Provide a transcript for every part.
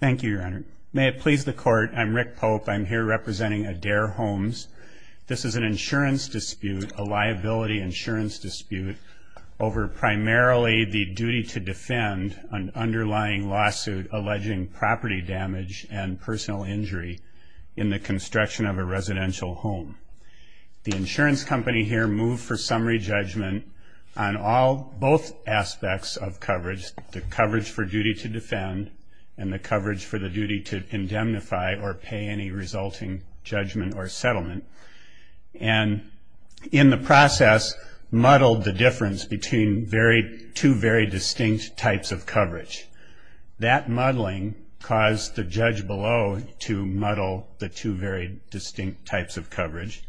Thank you, your honor. May it please the court. I'm Rick Pope. I'm here representing Adair Homes. This is an insurance dispute, a liability insurance dispute over primarily the duty to defend an underlying lawsuit alleging property damage and personal injury in the construction of a residential home. The insurance company here moved for summary judgment on all both aspects of coverage, the coverage for duty to defend, and the coverage for the duty to indemnify or pay any resulting judgment or settlement, and in the process muddled the difference between two very distinct types of coverage. That muddling caused the judge below to muddle the two very distinct types of coverage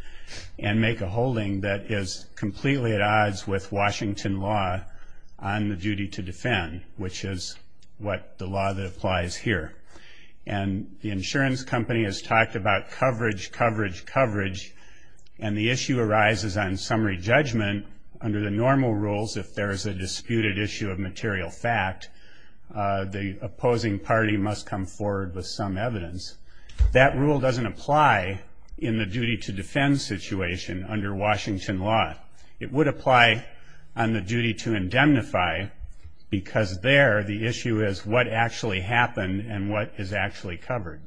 and make a holding that is completely at odds with Washington law on the duty to defend, which is what the law that applies here. And the insurance company has talked about coverage, coverage, coverage, and the issue arises on summary judgment. Under the normal rules, if there is a disputed issue of material fact, the opposing party must come forward with some evidence. That rule doesn't apply in the duty to defend situation under Washington law. It would apply on the duty to indemnify because there the issue is what actually happened and what is actually covered.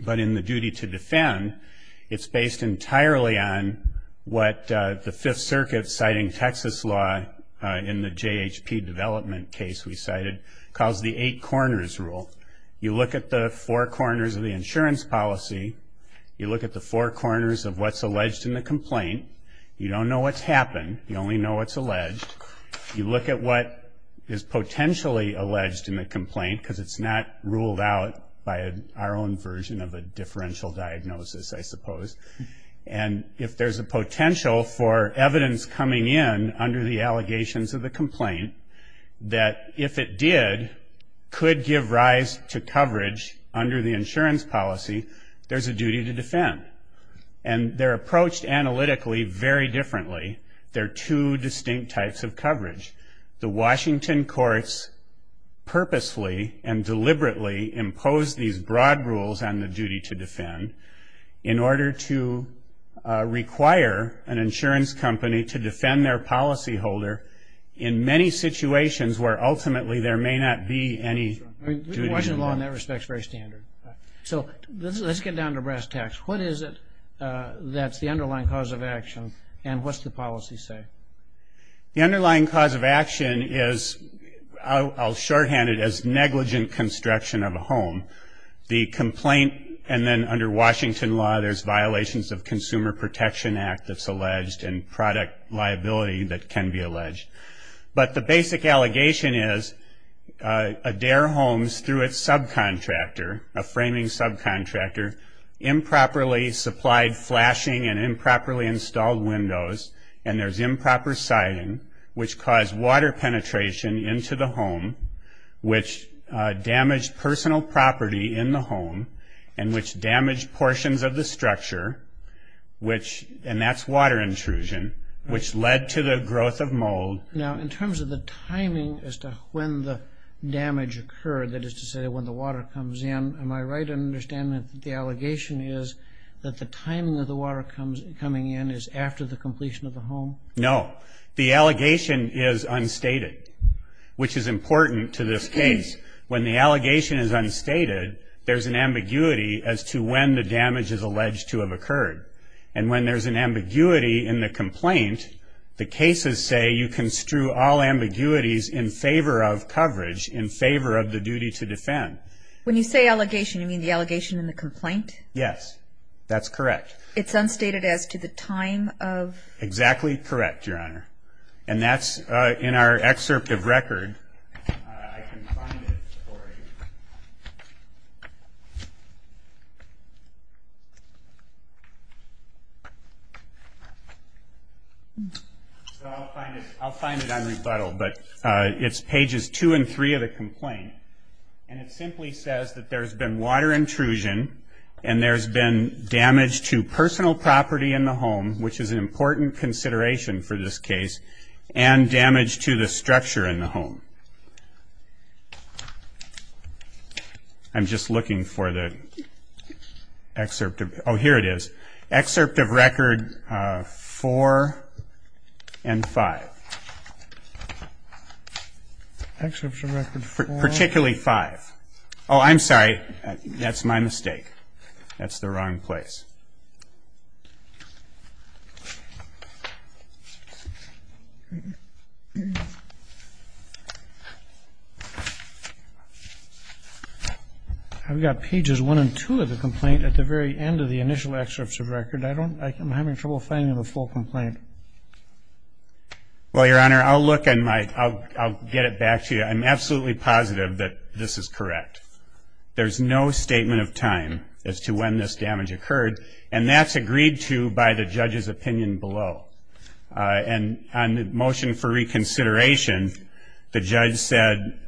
But in the duty to defend, it's based entirely on what the Fifth Circuit's citing Texas law in the JHP development case we cited, called the Eight Corners Rule. You look at the four corners of the insurance policy, you look at the four corners of what's alleged in the complaint, because it's not ruled out by our own version of a differential diagnosis, I suppose. And if there's a potential for evidence coming in under the allegations of the complaint, that if it did, could give rise to coverage under the insurance policy, there's a duty to defend. And they're approached cautiously and deliberately impose these broad rules on the duty to defend in order to require an insurance company to defend their policy holder in many situations where ultimately there may not be any duty to defend. The Washington law in that respect is very standard. So let's get down to brass tacks. What is it that's the underlying cause of action, and what's the policy say? The underlying cause of action is, I'll shorthand it, as negligent construction of a home. The complaint, and then under Washington law, there's violations of Consumer Protection Act that's alleged, and product liability that can be alleged. But the basic allegation is Adair Homes, through its subcontractor, a framing subcontractor, improperly supplied flashing and improperly installed windows, and there's improper siding, which caused water penetration into the home, which damaged personal property in the home, and which damaged portions of the structure, which, and that's water intrusion, which led to the growth of mold. Now, in terms of the timing as to when the damage occurred, that is to say when the water comes in, am I right in understanding that the allegation is that the timing of the water coming in is after the completion of the home? No. The allegation is unstated, which is important to this case. When the allegation is unstated, there's an ambiguity as to when the damage is alleged to have occurred. And when there's an ambiguity in the complaint, the cases say you construe all ambiguities in favor of coverage, in favor of the duty to defend. When you say allegation, you mean the allegation in the complaint? Yes. That's correct. It's unstated as to the time of? Exactly correct, Your Honor. And that's in our excerpt of record. I can find it for you. I'll find it unrebuttled, but it's pages two and three of the complaint, and it simply says that there's been water intrusion and there's been damage to personal property in the home, which is an important consideration for this case, and damage to the structure in the home. I'm just looking for the excerpt. Oh, here it is. Excerpt of record four and five. Particularly five. Oh, I'm sorry. That's my mistake. That's the wrong place. I've got pages one and two of the complaint at the very end of the initial excerpt of record. I'm having trouble finding the full complaint. Well, Your Honor, I'll get it back to you. I'm absolutely positive that this is correct. There's no statement of time as to when this damage occurred, and that's agreed to by the judge's opinion below. And on the motion for reconsideration, the judge said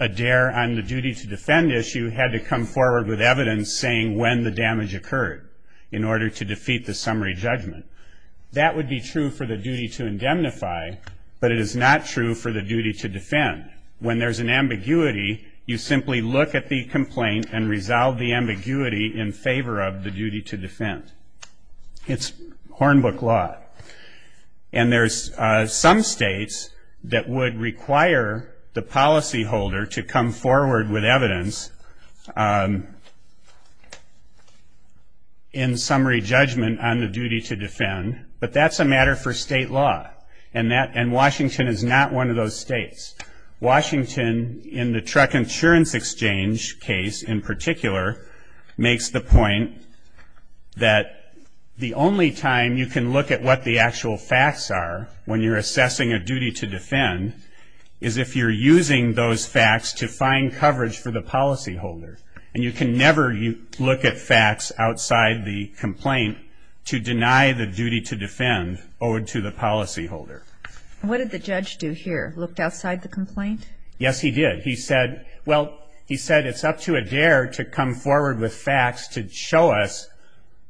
Adair, on the duty to defend issue, had to come forward with evidence saying when the damage occurred in order to defeat the summary judgment. That would be true for the duty to defend. It's Hornbook law. And there's some states that would require the policyholder to come forward with evidence in summary judgment on the duty to defend, but that's a matter for state law. And Washington is not one of those states. Washington, in the truck insurance exchange case in particular, makes the point that the only time you can look at what the actual facts are when you're assessing a duty to defend is if you're using those facts to find coverage for the policyholder. And you can never look at facts outside the complaint to deny the duty to defend owed to the policyholder. What did the judge do here? Looked outside the complaint? Yes, he did. He said, well, he said it's up to Adair to come forward with facts to show us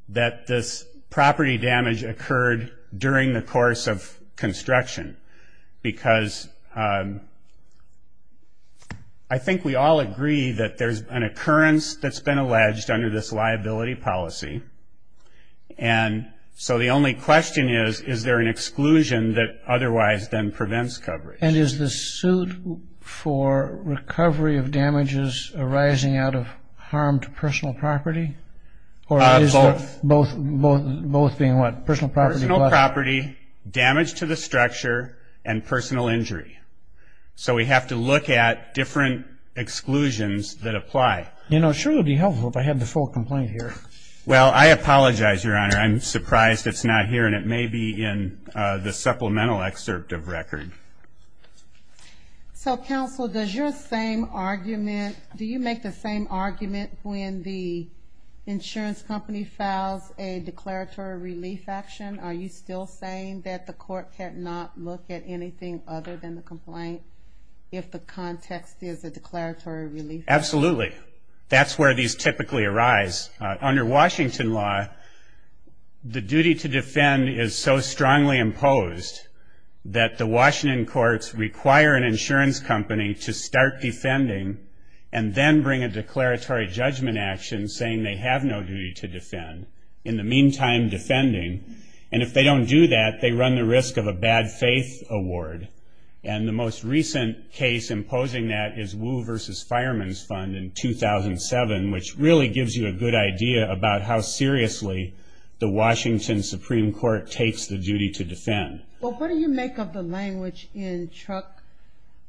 that this property damage occurred during the course of construction. Because I think we all agree that there's an occurrence that's been alleged under this liability policy. And so the only question is, is there an exclusion that otherwise then prevents coverage? And is the suit for recovery of damages arising out of harmed personal property? Both being what? Personal property. Personal property, damage to the structure, and personal injury. So we have to look at different exclusions that apply. You know, it sure would be helpful if I had the full complaint here. Well, I apologize, Your Honor. I'm surprised it's not here. And it may be in the supplemental excerpt of record. So, counsel, does your same argument, do you make the same argument when the insurance company files a declaratory relief action? Are you still saying that the court cannot look at anything other than the complaint if the context is a declaratory relief? Absolutely. That's where these typically arise. Under Washington law, the duty to defend is so strongly imposed that the Washington courts require an insurance company to start defending and then bring a declaratory judgment action saying they have no duty to defend. In the meantime, defending. And if they don't do that, they run the risk of a bad faith award. And the most recent case imposing that is Wu versus Fireman's Fund in 2007, which really gives you a good idea about how seriously the Washington Supreme Court takes the duty to defend. Well, what do you make of the language in Truck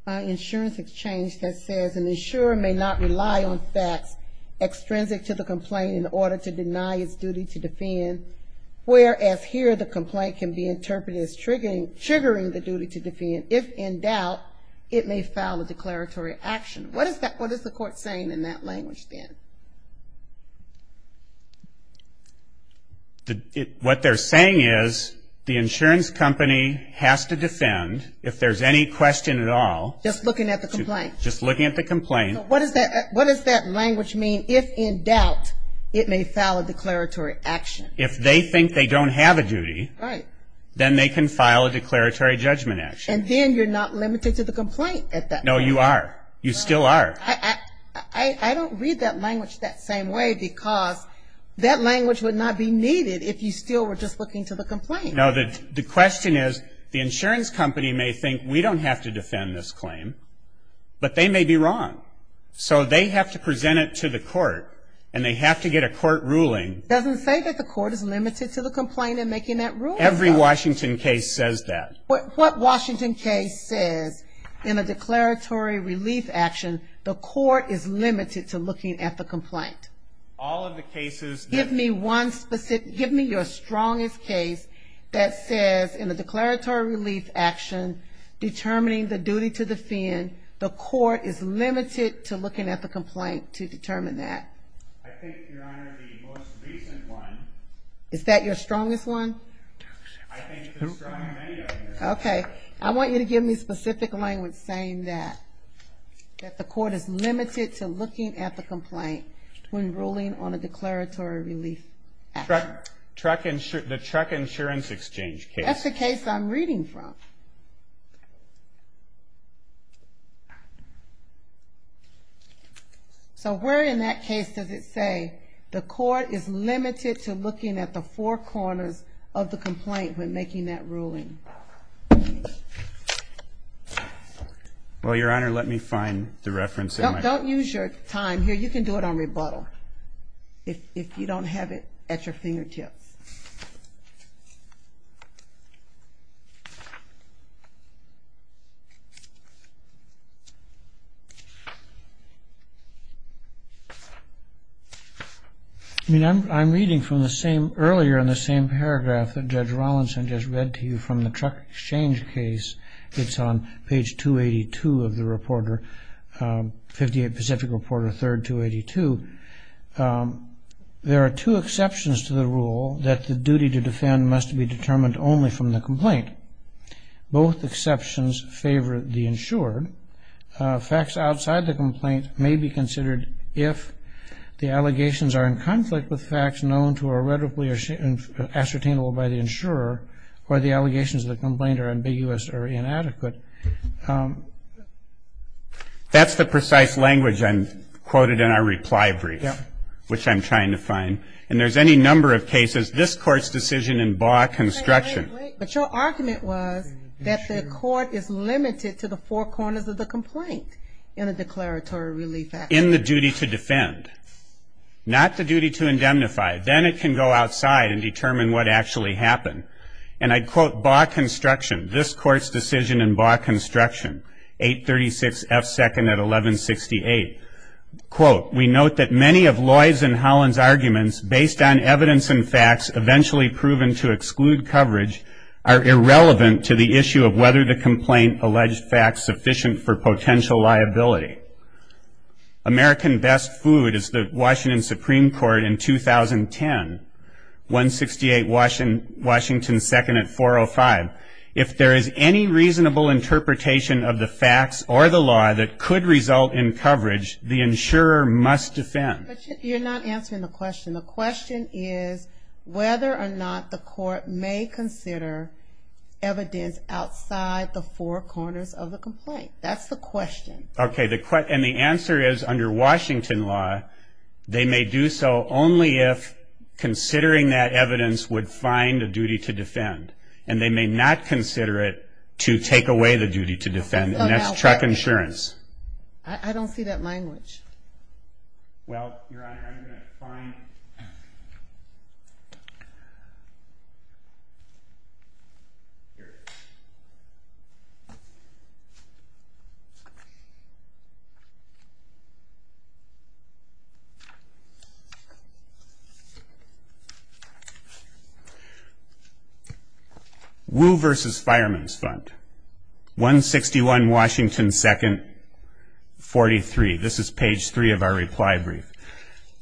Insurance Exchange that says an insurer may not rely on facts extrinsic to the complaint in order to deny its duty to defend, whereas here the complaint can be interpreted as triggering the duty to defend if in doubt it may file a declaratory action. What is the court saying in that language then? What they're saying is the insurance company has to defend if there's any question at all. Just looking at the complaint. Just looking at the complaint. So what does that language mean if in doubt it may file a declaratory action? If they think they don't have a duty. Right. Then they can file a declaratory judgment action. And then you're not limited to the complaint at that point. No, you are. You still are. I don't read that language that same way because that language would not be needed if you still were just looking to the complaint. No, the question is the insurance company may think we don't have to defend this claim, but they may be wrong. So they have to present it to the court, and they have to get a court ruling. It doesn't say that the court is limited to the complaint in making that ruling. Every Washington case says that. What Washington case says in a declaratory relief action the court is limited to looking at the complaint? All of the cases that- Give me your strongest case that says in a declaratory relief action determining the duty to defend, the court is limited to looking at the complaint to determine that. I think, Your Honor, the most recent one- Is that your strongest one? I think it's strong in many of them. Okay. I want you to give me specific language saying that the court is limited to looking at the complaint when ruling on a declaratory relief action. The truck insurance exchange case. That's the case I'm reading from. So where in that case does it say, the court is limited to looking at the four corners of the complaint when making that ruling? Well, Your Honor, let me find the reference in my- Don't use your time here. You can do it on rebuttal. If you don't have it at your fingertips. Okay. I mean, I'm reading from the same- earlier in the same paragraph that Judge Rollinson just read to you from the truck exchange case. It's on page 282 of the Reporter- 58 Pacific Reporter, 3rd, 282. There are two exceptions to the rule that the duty to defend must be determined only from the complaint. Both exceptions favor the insured. Facts outside the complaint may be considered if the allegations are in conflict with facts known to or rhetorically ascertainable by the insurer or the allegations of the complaint are ambiguous or inadequate. That's the precise language I quoted in our reply brief, which I'm trying to find. And there's any number of cases, this Court's decision in Baugh construction- But your argument was that the court is limited to the four corners of the complaint in a declaratory relief act. In the duty to defend. Not the duty to indemnify. Then it can go outside and determine what actually happened. And I quote, Baugh construction, this Court's decision in Baugh construction, 836 F. 2nd at 1168. Quote, we note that many of Lloyd's and Holland's arguments, based on evidence and facts eventually proven to exclude coverage, are irrelevant to the issue of whether the complaint alleged facts sufficient for potential liability. American Best Food is the Washington Supreme Court in 2010. 168 Washington 2nd at 405. If there is any reasonable interpretation of the facts or the law that could result in coverage, the insurer must defend. But you're not answering the question. The question is whether or not the court may consider evidence outside the four corners of the complaint. That's the question. Okay, and the answer is under Washington law, they may do so only if considering that evidence would find a duty to defend. And they may not consider it to take away the duty to defend. And that's truck insurance. I don't see that language. Well, Your Honor, I'm going to find... Woo v. Fireman's Fund, 161 Washington 2nd, 43. This is page 3 of our reply brief.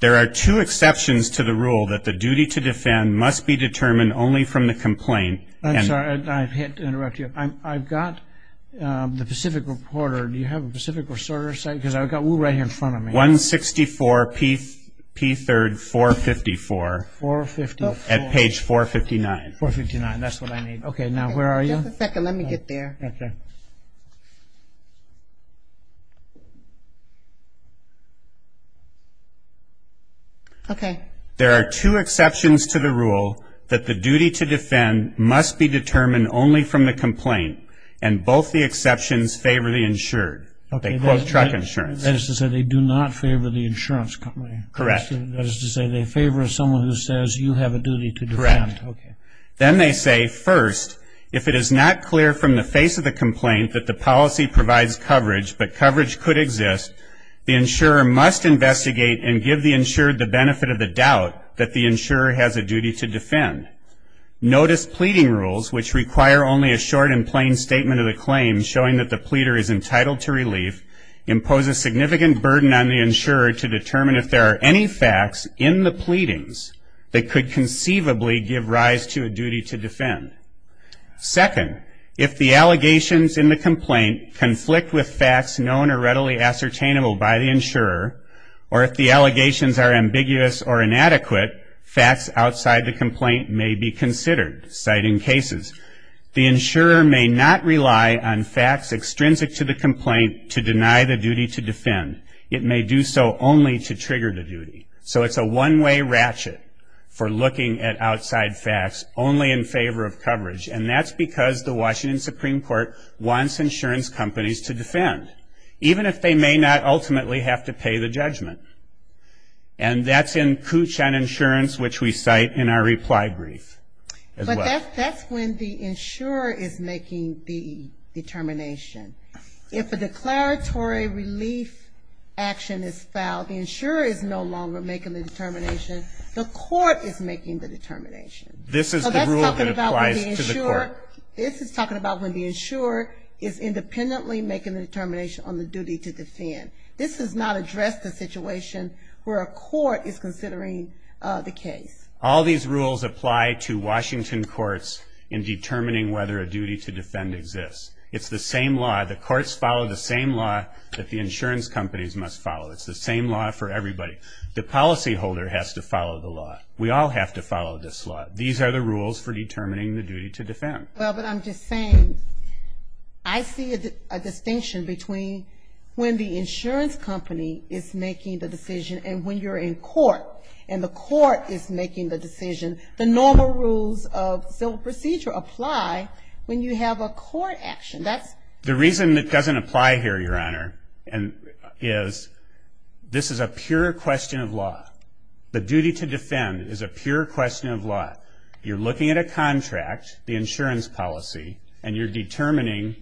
There are two exceptions to the rule that the duty to defend must be determined only from the complaint. I'm sorry. I can't interrupt you. I've got the Pacific Reporter. Do you have a Pacific Reporter site? Because I've got Woo right here in front of me. 164 P. 3rd, 454 at page 459. 459, that's what I need. Okay, now where are you? Just a second. Let me get there. Okay. There are two exceptions to the rule that the duty to defend must be determined only from the complaint, and both the exceptions favor the insured. They quote truck insurance. That is to say they do not favor the insurance company. Correct. That is to say they favor someone who says you have a duty to defend. Correct. Then they say, first, if it is not clear from the face of the complaint that the policy provides coverage but coverage could exist, the insurer must investigate and give the insured the benefit of the doubt that the insurer has a duty to defend. Notice pleading rules, which require only a short and plain statement of the claim, showing that the pleader is entitled to relief, impose a significant burden on the insurer to determine if there are any facts in the pleadings that could conceivably give rise to a duty to defend. Second, if the allegations in the complaint conflict with facts known or readily ascertainable by the insurer, or if the allegations are ambiguous or inadequate, facts outside the complaint may be considered, citing cases. The insurer may not rely on facts extrinsic to the complaint to deny the duty to defend. It may do so only to trigger the duty. So it's a one-way ratchet for looking at outside facts only in favor of coverage. And that's because the Washington Supreme Court wants insurance companies to defend, even if they may not ultimately have to pay the judgment. And that's in Kuchan Insurance, which we cite in our reply brief as well. But that's when the insurer is making the determination. If a declaratory relief action is filed, the insurer is no longer making the determination. The court is making the determination. So that's talking about when the insurer is independently making the determination on the duty to defend. This does not address the situation where a court is considering the case. All these rules apply to Washington courts in determining whether a duty to defend exists. It's the same law, the courts follow the same law that the insurance companies must follow. It's the same law for everybody. The policyholder has to follow the law. We all have to follow this law. These are the rules for determining the duty to defend. Well, but I'm just saying, I see a distinction between when the insurance company is making the decision and when you're in court and the court is making the decision. The normal rules of civil procedure apply when you have a court action. The reason it doesn't apply here, Your Honor, is this is a pure question of law. The duty to defend is a pure question of law. You're looking at a contract, the insurance policy, and you're determining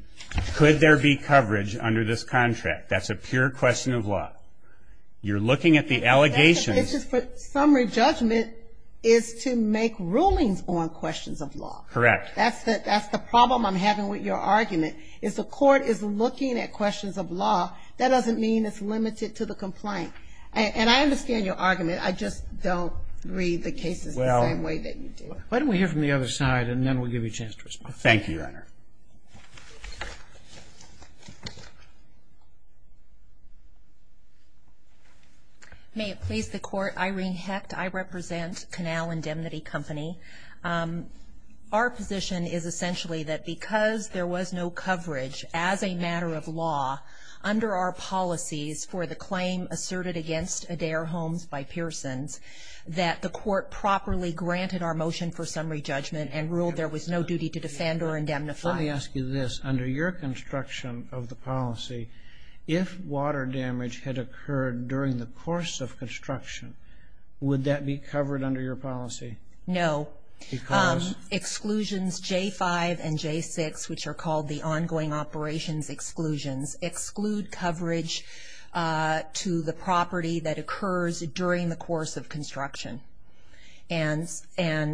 could there be coverage under this contract. That's a pure question of law. You're looking at the allegations. It's just that summary judgment is to make rulings on questions of law. Correct. That's the problem I'm having with your argument. If the court is looking at questions of law, that doesn't mean it's limited to the complaint. And I understand your argument. I just don't read the cases the same way that you do. Why don't we hear from the other side, and then we'll give you a chance to respond. Thank you, Your Honor. May it please the Court, Irene Hecht, I represent Canal Indemnity Company. Our position is essentially that because there was no coverage as a matter of law under our policies for the claim asserted against Adair Homes by Pearsons, that the court properly granted our motion for summary judgment and ruled there was no duty to defend or indemnify. Let me ask you this. Under your construction of the policy, if water damage had occurred during the course of construction, would that be covered under your policy? No. Because? Exclusions J-5 and J-6, which are called the ongoing operations exclusions, exclude coverage to the property that occurs during the course of construction. And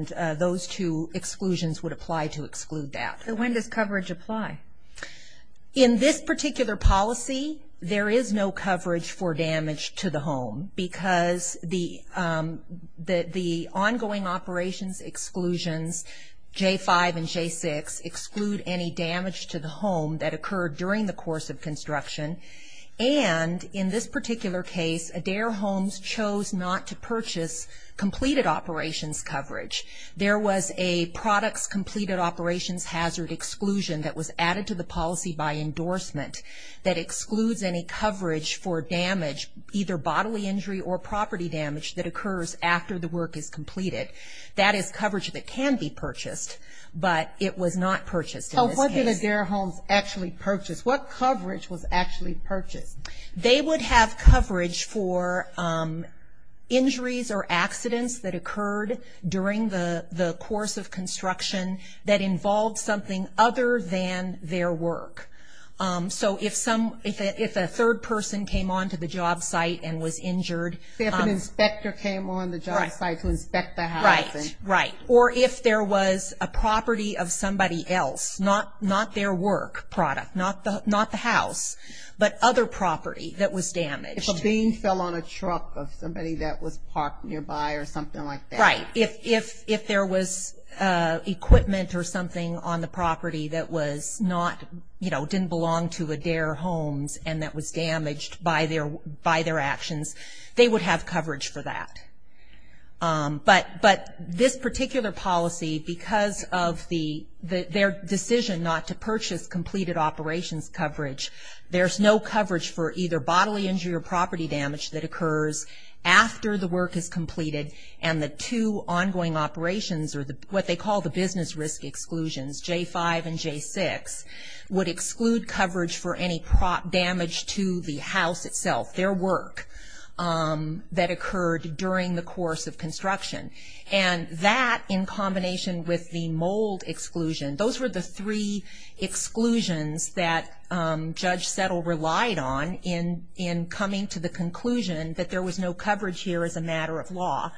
those two exclusions would apply to exclude that. So when does coverage apply? In this particular policy, there is no coverage for damage to the home, because the ongoing operations exclusions, J-5 and J-6, exclude any damage to the home that occurred during the course of construction. And in this particular case, Adair Homes chose not to purchase completed operations coverage. There was a products completed operations hazard exclusion that was added to the policy by endorsement that excludes any coverage for damage, either bodily injury or property damage, that occurs after the work is completed. That is coverage that can be purchased, but it was not purchased in this case. What did Adair Homes actually purchase? What coverage was actually purchased? They would have coverage for injuries or accidents that occurred during the course of construction that involved something other than their work. So if a third person came onto the job site and was injured. If an inspector came on the job site to inspect the housing. Right, right. Or if there was a property of somebody else, not their work product, not the house, but other property that was damaged. If a being fell on a truck of somebody that was parked nearby or something like that. Right. If there was equipment or something on the property that was not, you know, didn't belong to Adair Homes and that was damaged by their actions, they would have coverage for that. But this particular policy, because of their decision not to purchase completed operations coverage, there's no coverage for either bodily injury or property damage that occurs after the work is completed and the two ongoing operations, or what they call the business risk exclusions, J5 and J6, would exclude coverage for any damage to the house itself, their work that occurred during the course of construction. And that, in combination with the mold exclusion, those were the three exclusions that Judge Settle relied on in coming to the conclusion that there was no coverage here as a matter of law.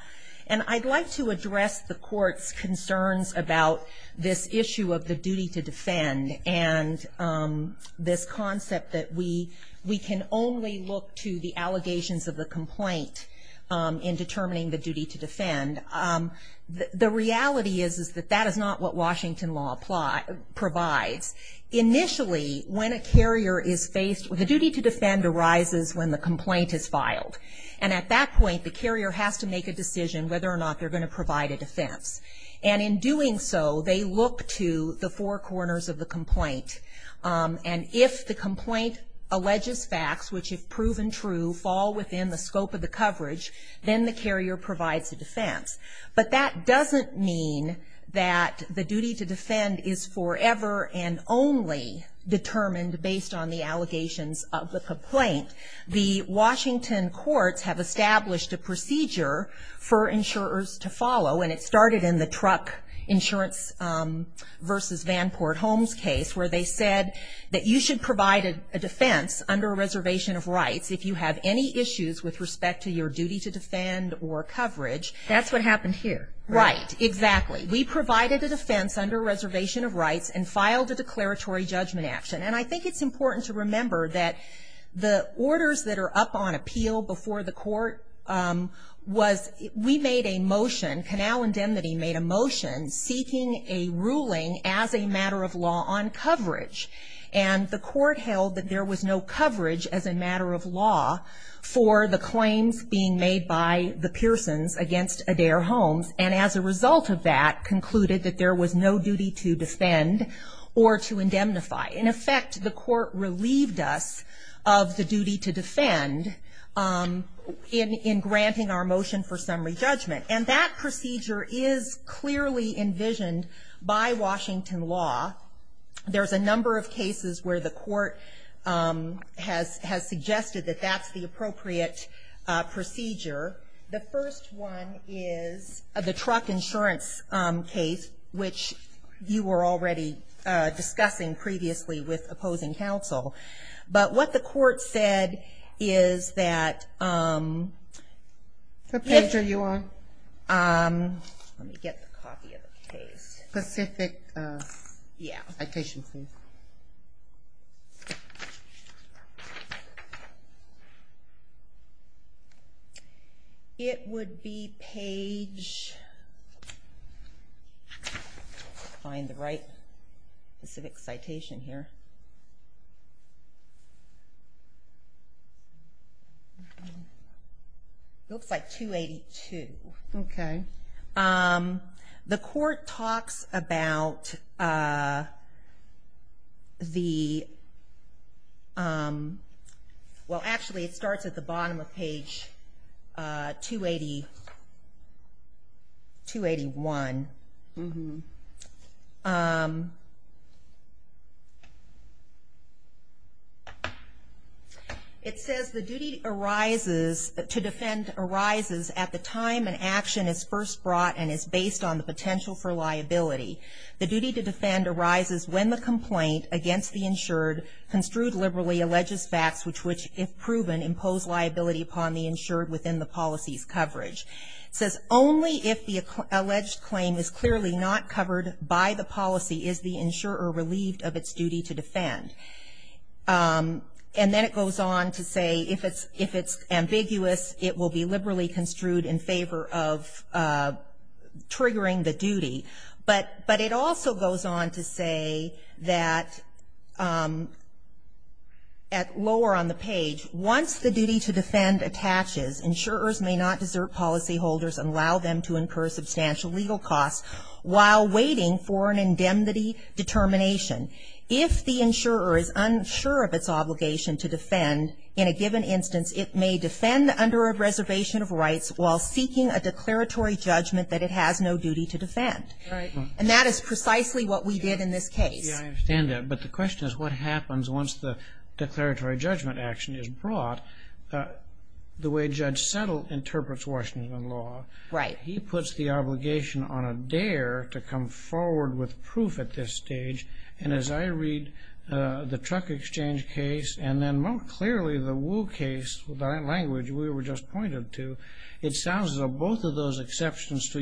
And I'd like to address the court's concerns about this issue of the duty to defend and this concept that we can only look to the allegations of the complaint in determining the duty to defend. The reality is that that is not what Washington law provides. Initially, when a carrier is faced, the duty to defend arises when the complaint is filed. And at that point, the carrier has to make a decision whether or not they're going to provide a defense. And in doing so, they look to the four corners of the complaint. And if the complaint alleges facts which, if proven true, fall within the scope of the coverage, then the carrier provides a defense. But that doesn't mean that the duty to defend is forever and only determined based on the allegations of the complaint. The Washington courts have established a procedure for insurers to follow, and it started in the truck insurance versus Vanport Homes case, where they said that you should provide a defense under a reservation of rights if you have any issues with respect to your duty to defend or coverage. That's what happened here. Right, exactly. We provided a defense under a reservation of rights and filed a declaratory judgment action. And I think it's important to remember that the orders that are up on appeal before the court was, we made a motion, Canal Indemnity made a motion seeking a ruling as a matter of law on coverage. And the court held that there was no coverage as a matter of law for the claims being made by the Pearsons against Adair Homes. And as a result of that, concluded that there was no duty to defend or to indemnify. In effect, the court relieved us of the duty to defend in granting our motion for summary judgment. And that procedure is clearly envisioned by Washington law. There's a number of cases where the court has suggested that that's the appropriate procedure. The first one is the truck insurance case, which you were already discussing previously with opposing counsel. But what the court said is that... What page are you on? It would be page... Let me find the right specific citation here. It's like 282. The court talks about the... Well, actually it starts at the bottom of page 281. It says the duty arises... To defend arises at the time an action is first brought and is based on the potential for liability. The duty to defend arises when the complaint against the insured, construed liberally, alleges facts which, if proven, impose liability upon the insured within the policy's coverage. It says only if the alleged claim is clearly not covered by the policy is the insurer relieved of its duty to defend. And then it goes on to say if it's ambiguous, it will be liberally construed in favor of triggering the duty. But it also goes on to say that at lower on the page, once the duty to defend attaches, insurers may not desert policyholders and allow them to incur substantial legal costs while waiting for an indemnity determination. If the insurer is unsure of its obligation to defend, in a given instance it may defend under a reservation of rights while seeking a declaratory judgment that it has no duty to defend. And that is precisely what we did in this case. Yeah, I understand that. But the question is what happens once the declaratory judgment action is brought the way Judge Settle interprets Washington law. He puts the obligation on a dare to come forward with proof at this stage. And as I read the Truck Exchange case and then more clearly the Wu case, the language we were just pointed to, it sounds as though both of those exceptions to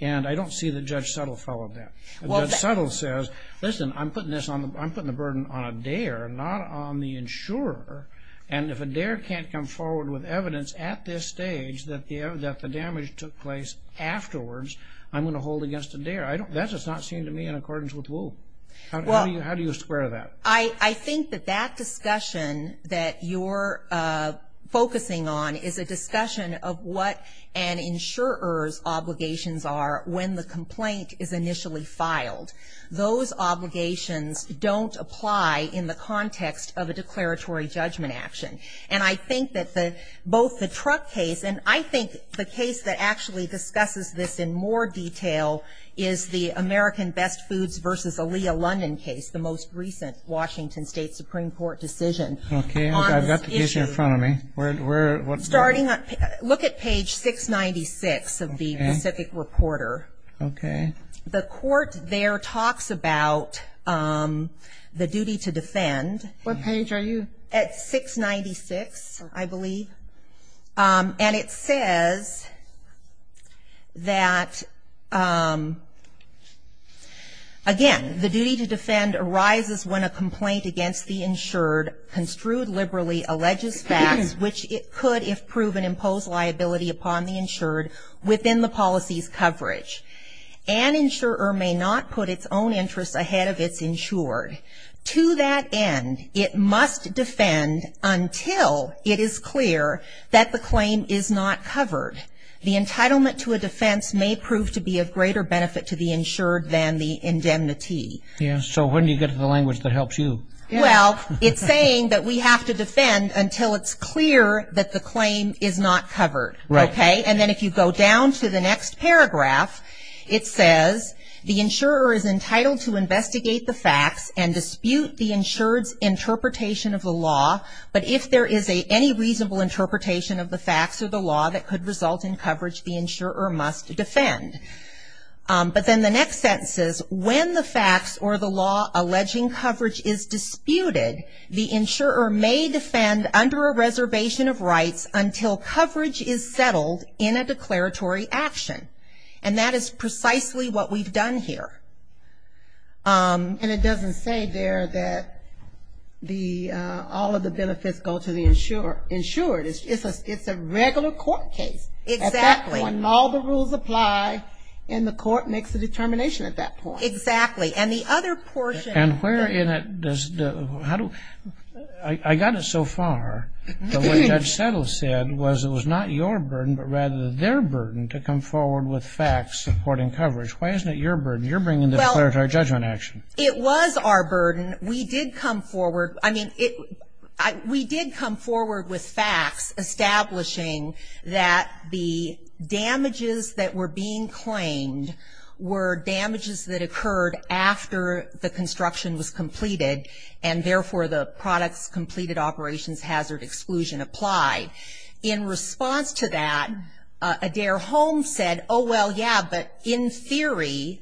And I don't see that Judge Settle followed that. Judge Settle says, listen, I'm putting the burden on a dare, not on the insurer. And if a dare can't come forward with evidence at this stage that the damage took place afterwards, I'm going to hold against a dare. That does not seem to me in accordance with Wu. How do you square that? I think that that discussion that you're focusing on is a discussion of what an insurer's obligations are when the complaint is initially filed. Those obligations don't apply in the context of a declaratory judgment action. And I think that both the Truck case and I think the case that actually discusses this in more detail is the Washington State Supreme Court decision on this issue. Look at page 696 of the Pacific Reporter. The court there talks about the duty to defend. What page are you? At 696, I believe. And it says that, again, the duty to defend arises when a complaint against the insured construed liberally alleges facts which it could, if proven, impose liability upon the insured within the policy's coverage. An insurer may not put its own interests ahead of its insured. To that end, it must defend until it is clear that the claim is not covered. The entitlement to a defense may prove to be of greater benefit to the insured than the indemnity. So when do you get to the language that helps you? Well, it's saying that we have to defend until it's clear that the claim is not covered. And then if you go down to the next paragraph, it says, when the facts or the law alleging coverage is disputed, the insurer may defend under a reservation of rights until coverage is settled in a declaratory action. And that is precisely what we've done here. You say there that all of the benefits go to the insured. It's a regular court case. At that point, all the rules apply, and the court makes the determination at that point. Exactly. And the other portion. And where in it does the, how do, I got it so far, but what Judge Settle said was it was not your burden, but rather their burden to come forward with facts supporting coverage. Why isn't it your burden? You're bringing the declaratory judgment action. It was our burden. We did come forward. We did come forward with facts establishing that the damages that were being claimed were damages that occurred after the construction was completed, and therefore the products completed operations hazard exclusion applied. In response to that, Adair Holmes said, oh, well, yeah, but in theory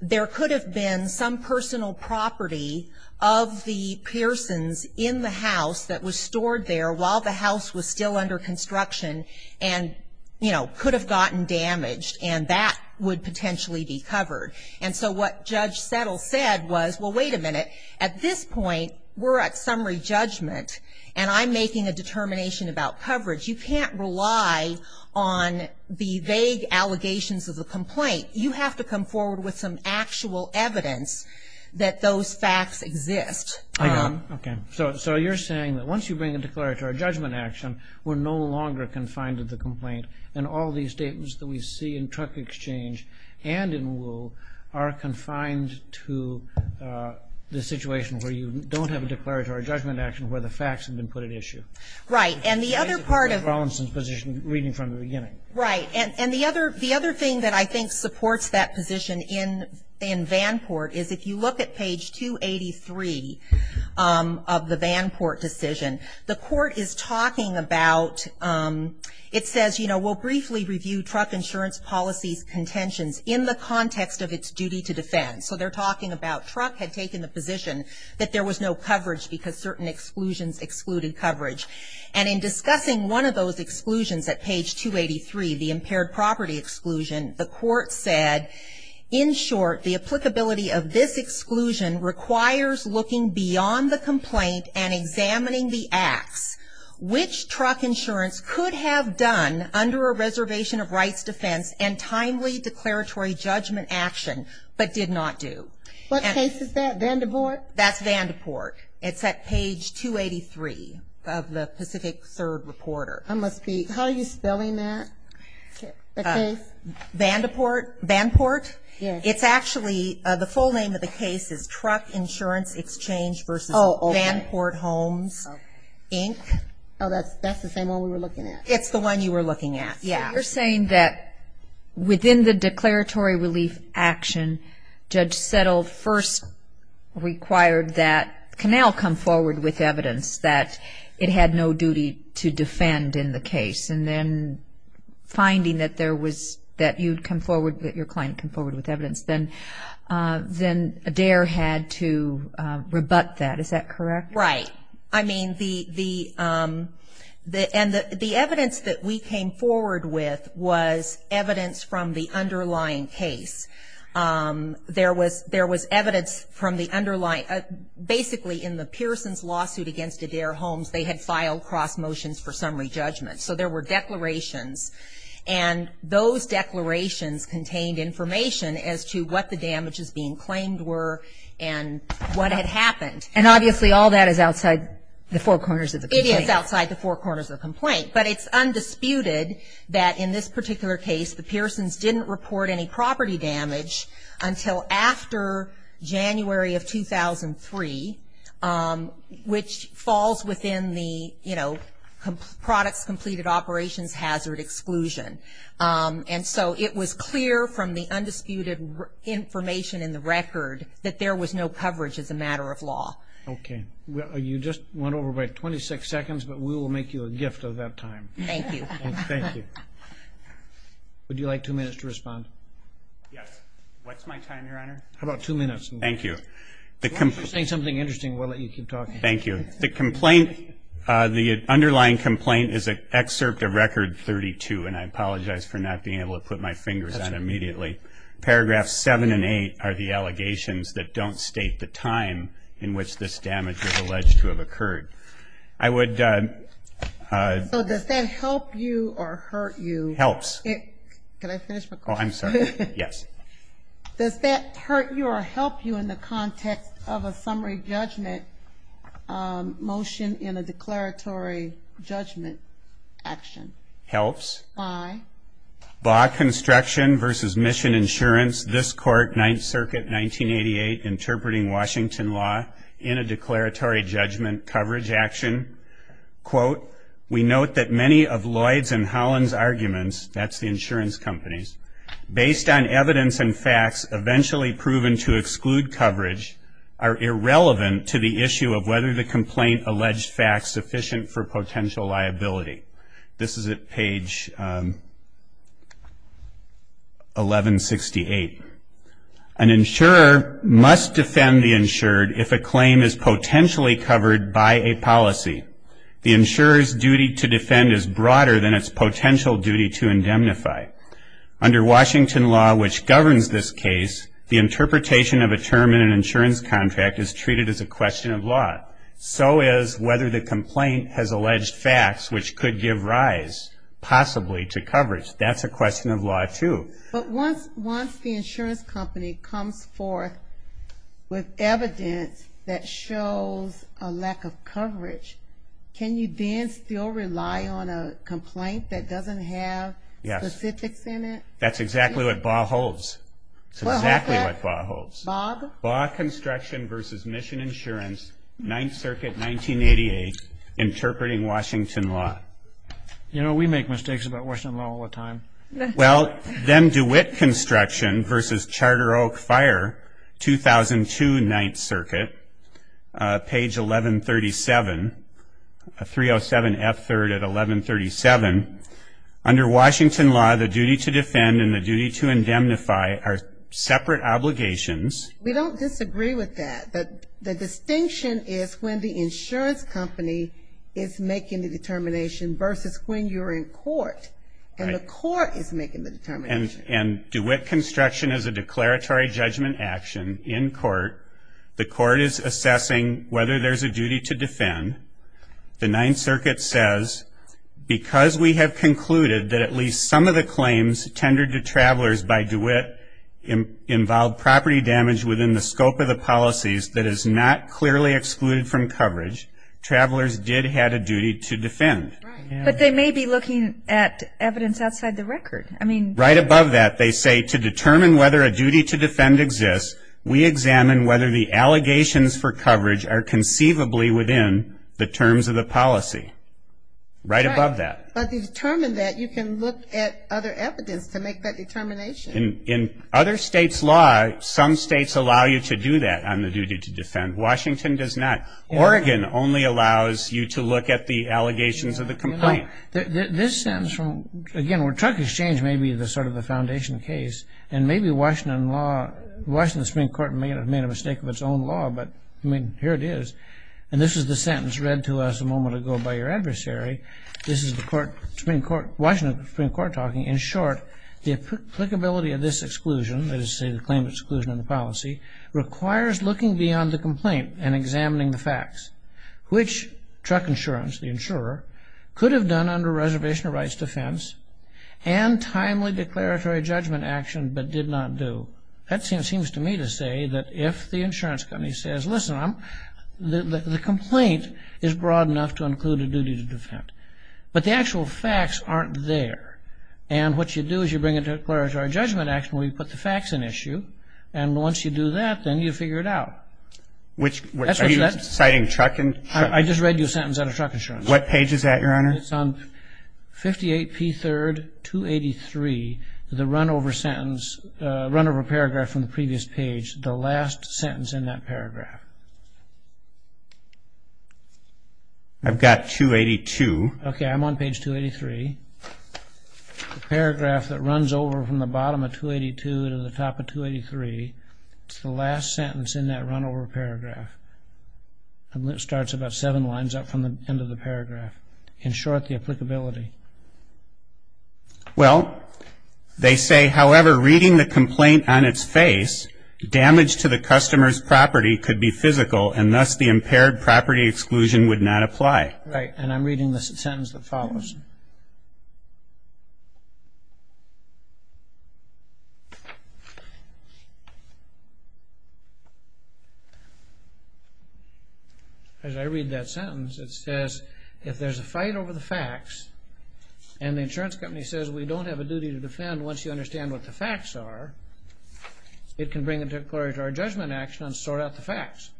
there could have been some personal property of the persons in the house that was stored there while the house was still under construction, and, you know, could have gotten damaged, and that would potentially be covered. And so what Judge Settle said was, well, wait a minute. At this point, we're at summary judgment, and I'm making a determination about coverage. You can't rely on the vague allegations of the complaint. You have to come forward with some actual evidence that those facts exist. Okay. So you're saying that once you bring a declaratory judgment action, we're no longer confined to the complaint, and all these statements that we see in truck exchange and in Woo are confined to the situation where you don't have a declaratory judgment action where the facts have been put at issue. Right. And the other part of the other thing that I think supports that position in Vanport is if you look at page 283 of the Vanport decision, the court is talking about, it says, you know, we'll briefly review truck insurance policy's contentions in the context of its duty to defend. So they're talking about truck had taken the position that there was no coverage because certain exclusions excluded coverage. And in discussing one of those exclusions at page 283, the impaired property exclusion, the court said, in short, the applicability of this exclusion requires looking beyond the complaint and examining the acts. Which truck insurance could have done under a reservation of rights defense and timely declaratory judgment action, but did not do? What case is that, Vandeport? That's Vandeport. It's at page 283 of the Pacific Third Reporter. I must be, how are you spelling that, the case? Vandeport. It's actually, the full name of the case is Truck Insurance Exchange versus Vanport Homes, Inc. Oh, that's the same one we were looking at. It's the one you were looking at, yeah. So you're saying that within the declaratory relief action, Judge Settle first required that it had no duty to defend in the case, and then finding that there was, that you'd come forward, that your client came forward with evidence, then Adair had to rebut that, is that correct? Right. I mean, the evidence that we came forward with was evidence from the underlying case. There was evidence from the underlying, basically in the Pearsons lawsuit against Adair Homes, they had filed cross motions for summary judgment. So there were declarations, and those declarations contained information as to what the damages being claimed were and what had happened. And obviously all that is outside the four corners of the complaint. It is outside the four corners of the complaint, but it's undisputed that in this particular case, the Pearsons didn't report any property damage until after January of 2003, which falls within the products completed operations hazard exclusion. And so it was clear from the undisputed information in the record that there was no coverage as a matter of law. Okay. You just went over by 26 seconds, but we will make you a gift of that time. Thank you. Would you like two minutes to respond? Yes. What's my time, Your Honor? How about two minutes? Thank you. If you're saying something interesting, we'll let you keep talking. Thank you. The underlying complaint is an excerpt of Record 32, and I apologize for not being able to put my fingers on it immediately. Paragraphs 7 and 8 are the allegations that don't state the time in which this damage is alleged to have occurred. So does that help you or hurt you? Helps. Can I finish my question? Oh, I'm sorry. Yes. Does that hurt you or help you in the context of a summary judgment motion in a declaratory judgment action? Helps. Why? Baugh Construction v. Mission Insurance, this court, 9th Circuit, 1988, interpreting Washington law in a declaratory judgment coverage action. Quote, we note that many of Lloyd's and Holland's arguments, that's the insurance companies, based on evidence and facts eventually proven to exclude coverage are irrelevant to the issue of whether the complaint alleged facts sufficient for potential liability. This is at page 1168. An insurer must defend the insured if a claim is potentially covered by a policy. The insurer's duty to defend is broader than its potential duty to indemnify. Under Washington law, which governs this case, the interpretation of a term in an insurance contract is treated as a question of law, so is whether the complaint has alleged facts, which could give rise possibly to coverage. That's a question of law, too. But once the insurance company comes forth with evidence that shows a lack of coverage, can you then still rely on a complaint that doesn't have specifics in it? Yes. That's exactly what Baugh holds. It's exactly what Baugh holds. Baugh Construction v. Mission Insurance, 9th Circuit, 1988, Interpreting Washington Law. You know, we make mistakes about Washington law all the time. Well, then DeWitt Construction v. Charter Oak Fire, 2002, 9th Circuit, page 1137, 307F3 at 1137. Under Washington law, the duty to defend and the duty to indemnify are separate obligations. We don't disagree with that. The distinction is when the insurance company is making the determination versus when you're in court and the court is making the determination. And DeWitt Construction is a declaratory judgment action in court. The court is assessing whether there's a duty to defend. The 9th Circuit says, because we have concluded that at least some of the claims tendered to travelers by DeWitt involved property damage within the scope of the policies that is not clearly excluded from coverage, travelers did have a duty to defend. But they may be looking at evidence outside the record. Right above that, they say to determine whether a duty to defend exists, we examine whether the allegations for coverage are conceivably within the terms of the policy. Right above that. But to determine that, you can look at other evidence to make that determination. In other states' law, some states allow you to do that on the duty to defend. Washington does not. Oregon only allows you to look at the allegations of the complaint. You know, this sentence from, again, where truck exchange may be sort of the foundation case, and maybe Washington law, Washington Supreme Court may have made a mistake with its own law, but, I mean, here it is. And this is the sentence read to us a moment ago by your adversary. This is the Supreme Court, Washington Supreme Court talking. In short, the applicability of this exclusion, that is to say the claim of exclusion in the policy, requires looking beyond the complaint and examining the facts. Which truck insurance, the insurer, could have done under reservation of rights defense and timely declaratory judgment action but did not do. That seems to me to say that if the insurance company says, listen, the complaint is broad enough to include a duty to defend. But the actual facts aren't there. And what you do is you bring a declaratory judgment action where you put the facts in issue, and once you do that, then you figure it out. Are you citing truck insurance? I just read you a sentence out of truck insurance. What page is that, Your Honor? It's on 58P3, 283, the runover sentence, runover paragraph from the previous page, the last sentence in that paragraph. I've got 282. Okay, I'm on page 283. The paragraph that runs over from the bottom of 282 to the top of 283, it's the last sentence in that runover paragraph. And it starts about seven lines up from the end of the paragraph. In short, the applicability. Well, they say, however, reading the complaint on its face, damage to the customer's property could be physical, and thus the impaired property exclusion would not apply. Right, and I'm reading the sentence that follows. As I read that sentence, it says, if there's a fight over the facts and the insurance company says we don't have a duty to defend once you understand what the facts are, it can bring a declaratory judgment action and sort out the facts,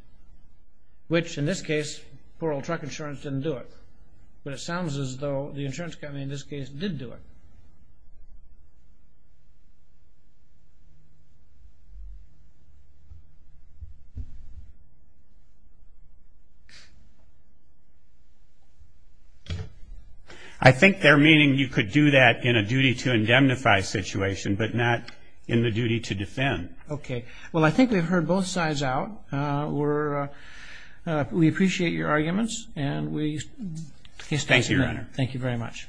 which in this case, poor old truck insurance didn't do it. But it sounds as though the insurance company in this case did do it. I think they're meaning you could do that in a duty to indemnify situation, but not in the duty to defend. Okay. Well, I think we've heard both sides out. We appreciate your arguments, and we thank you, Your Honor. Thank you very much.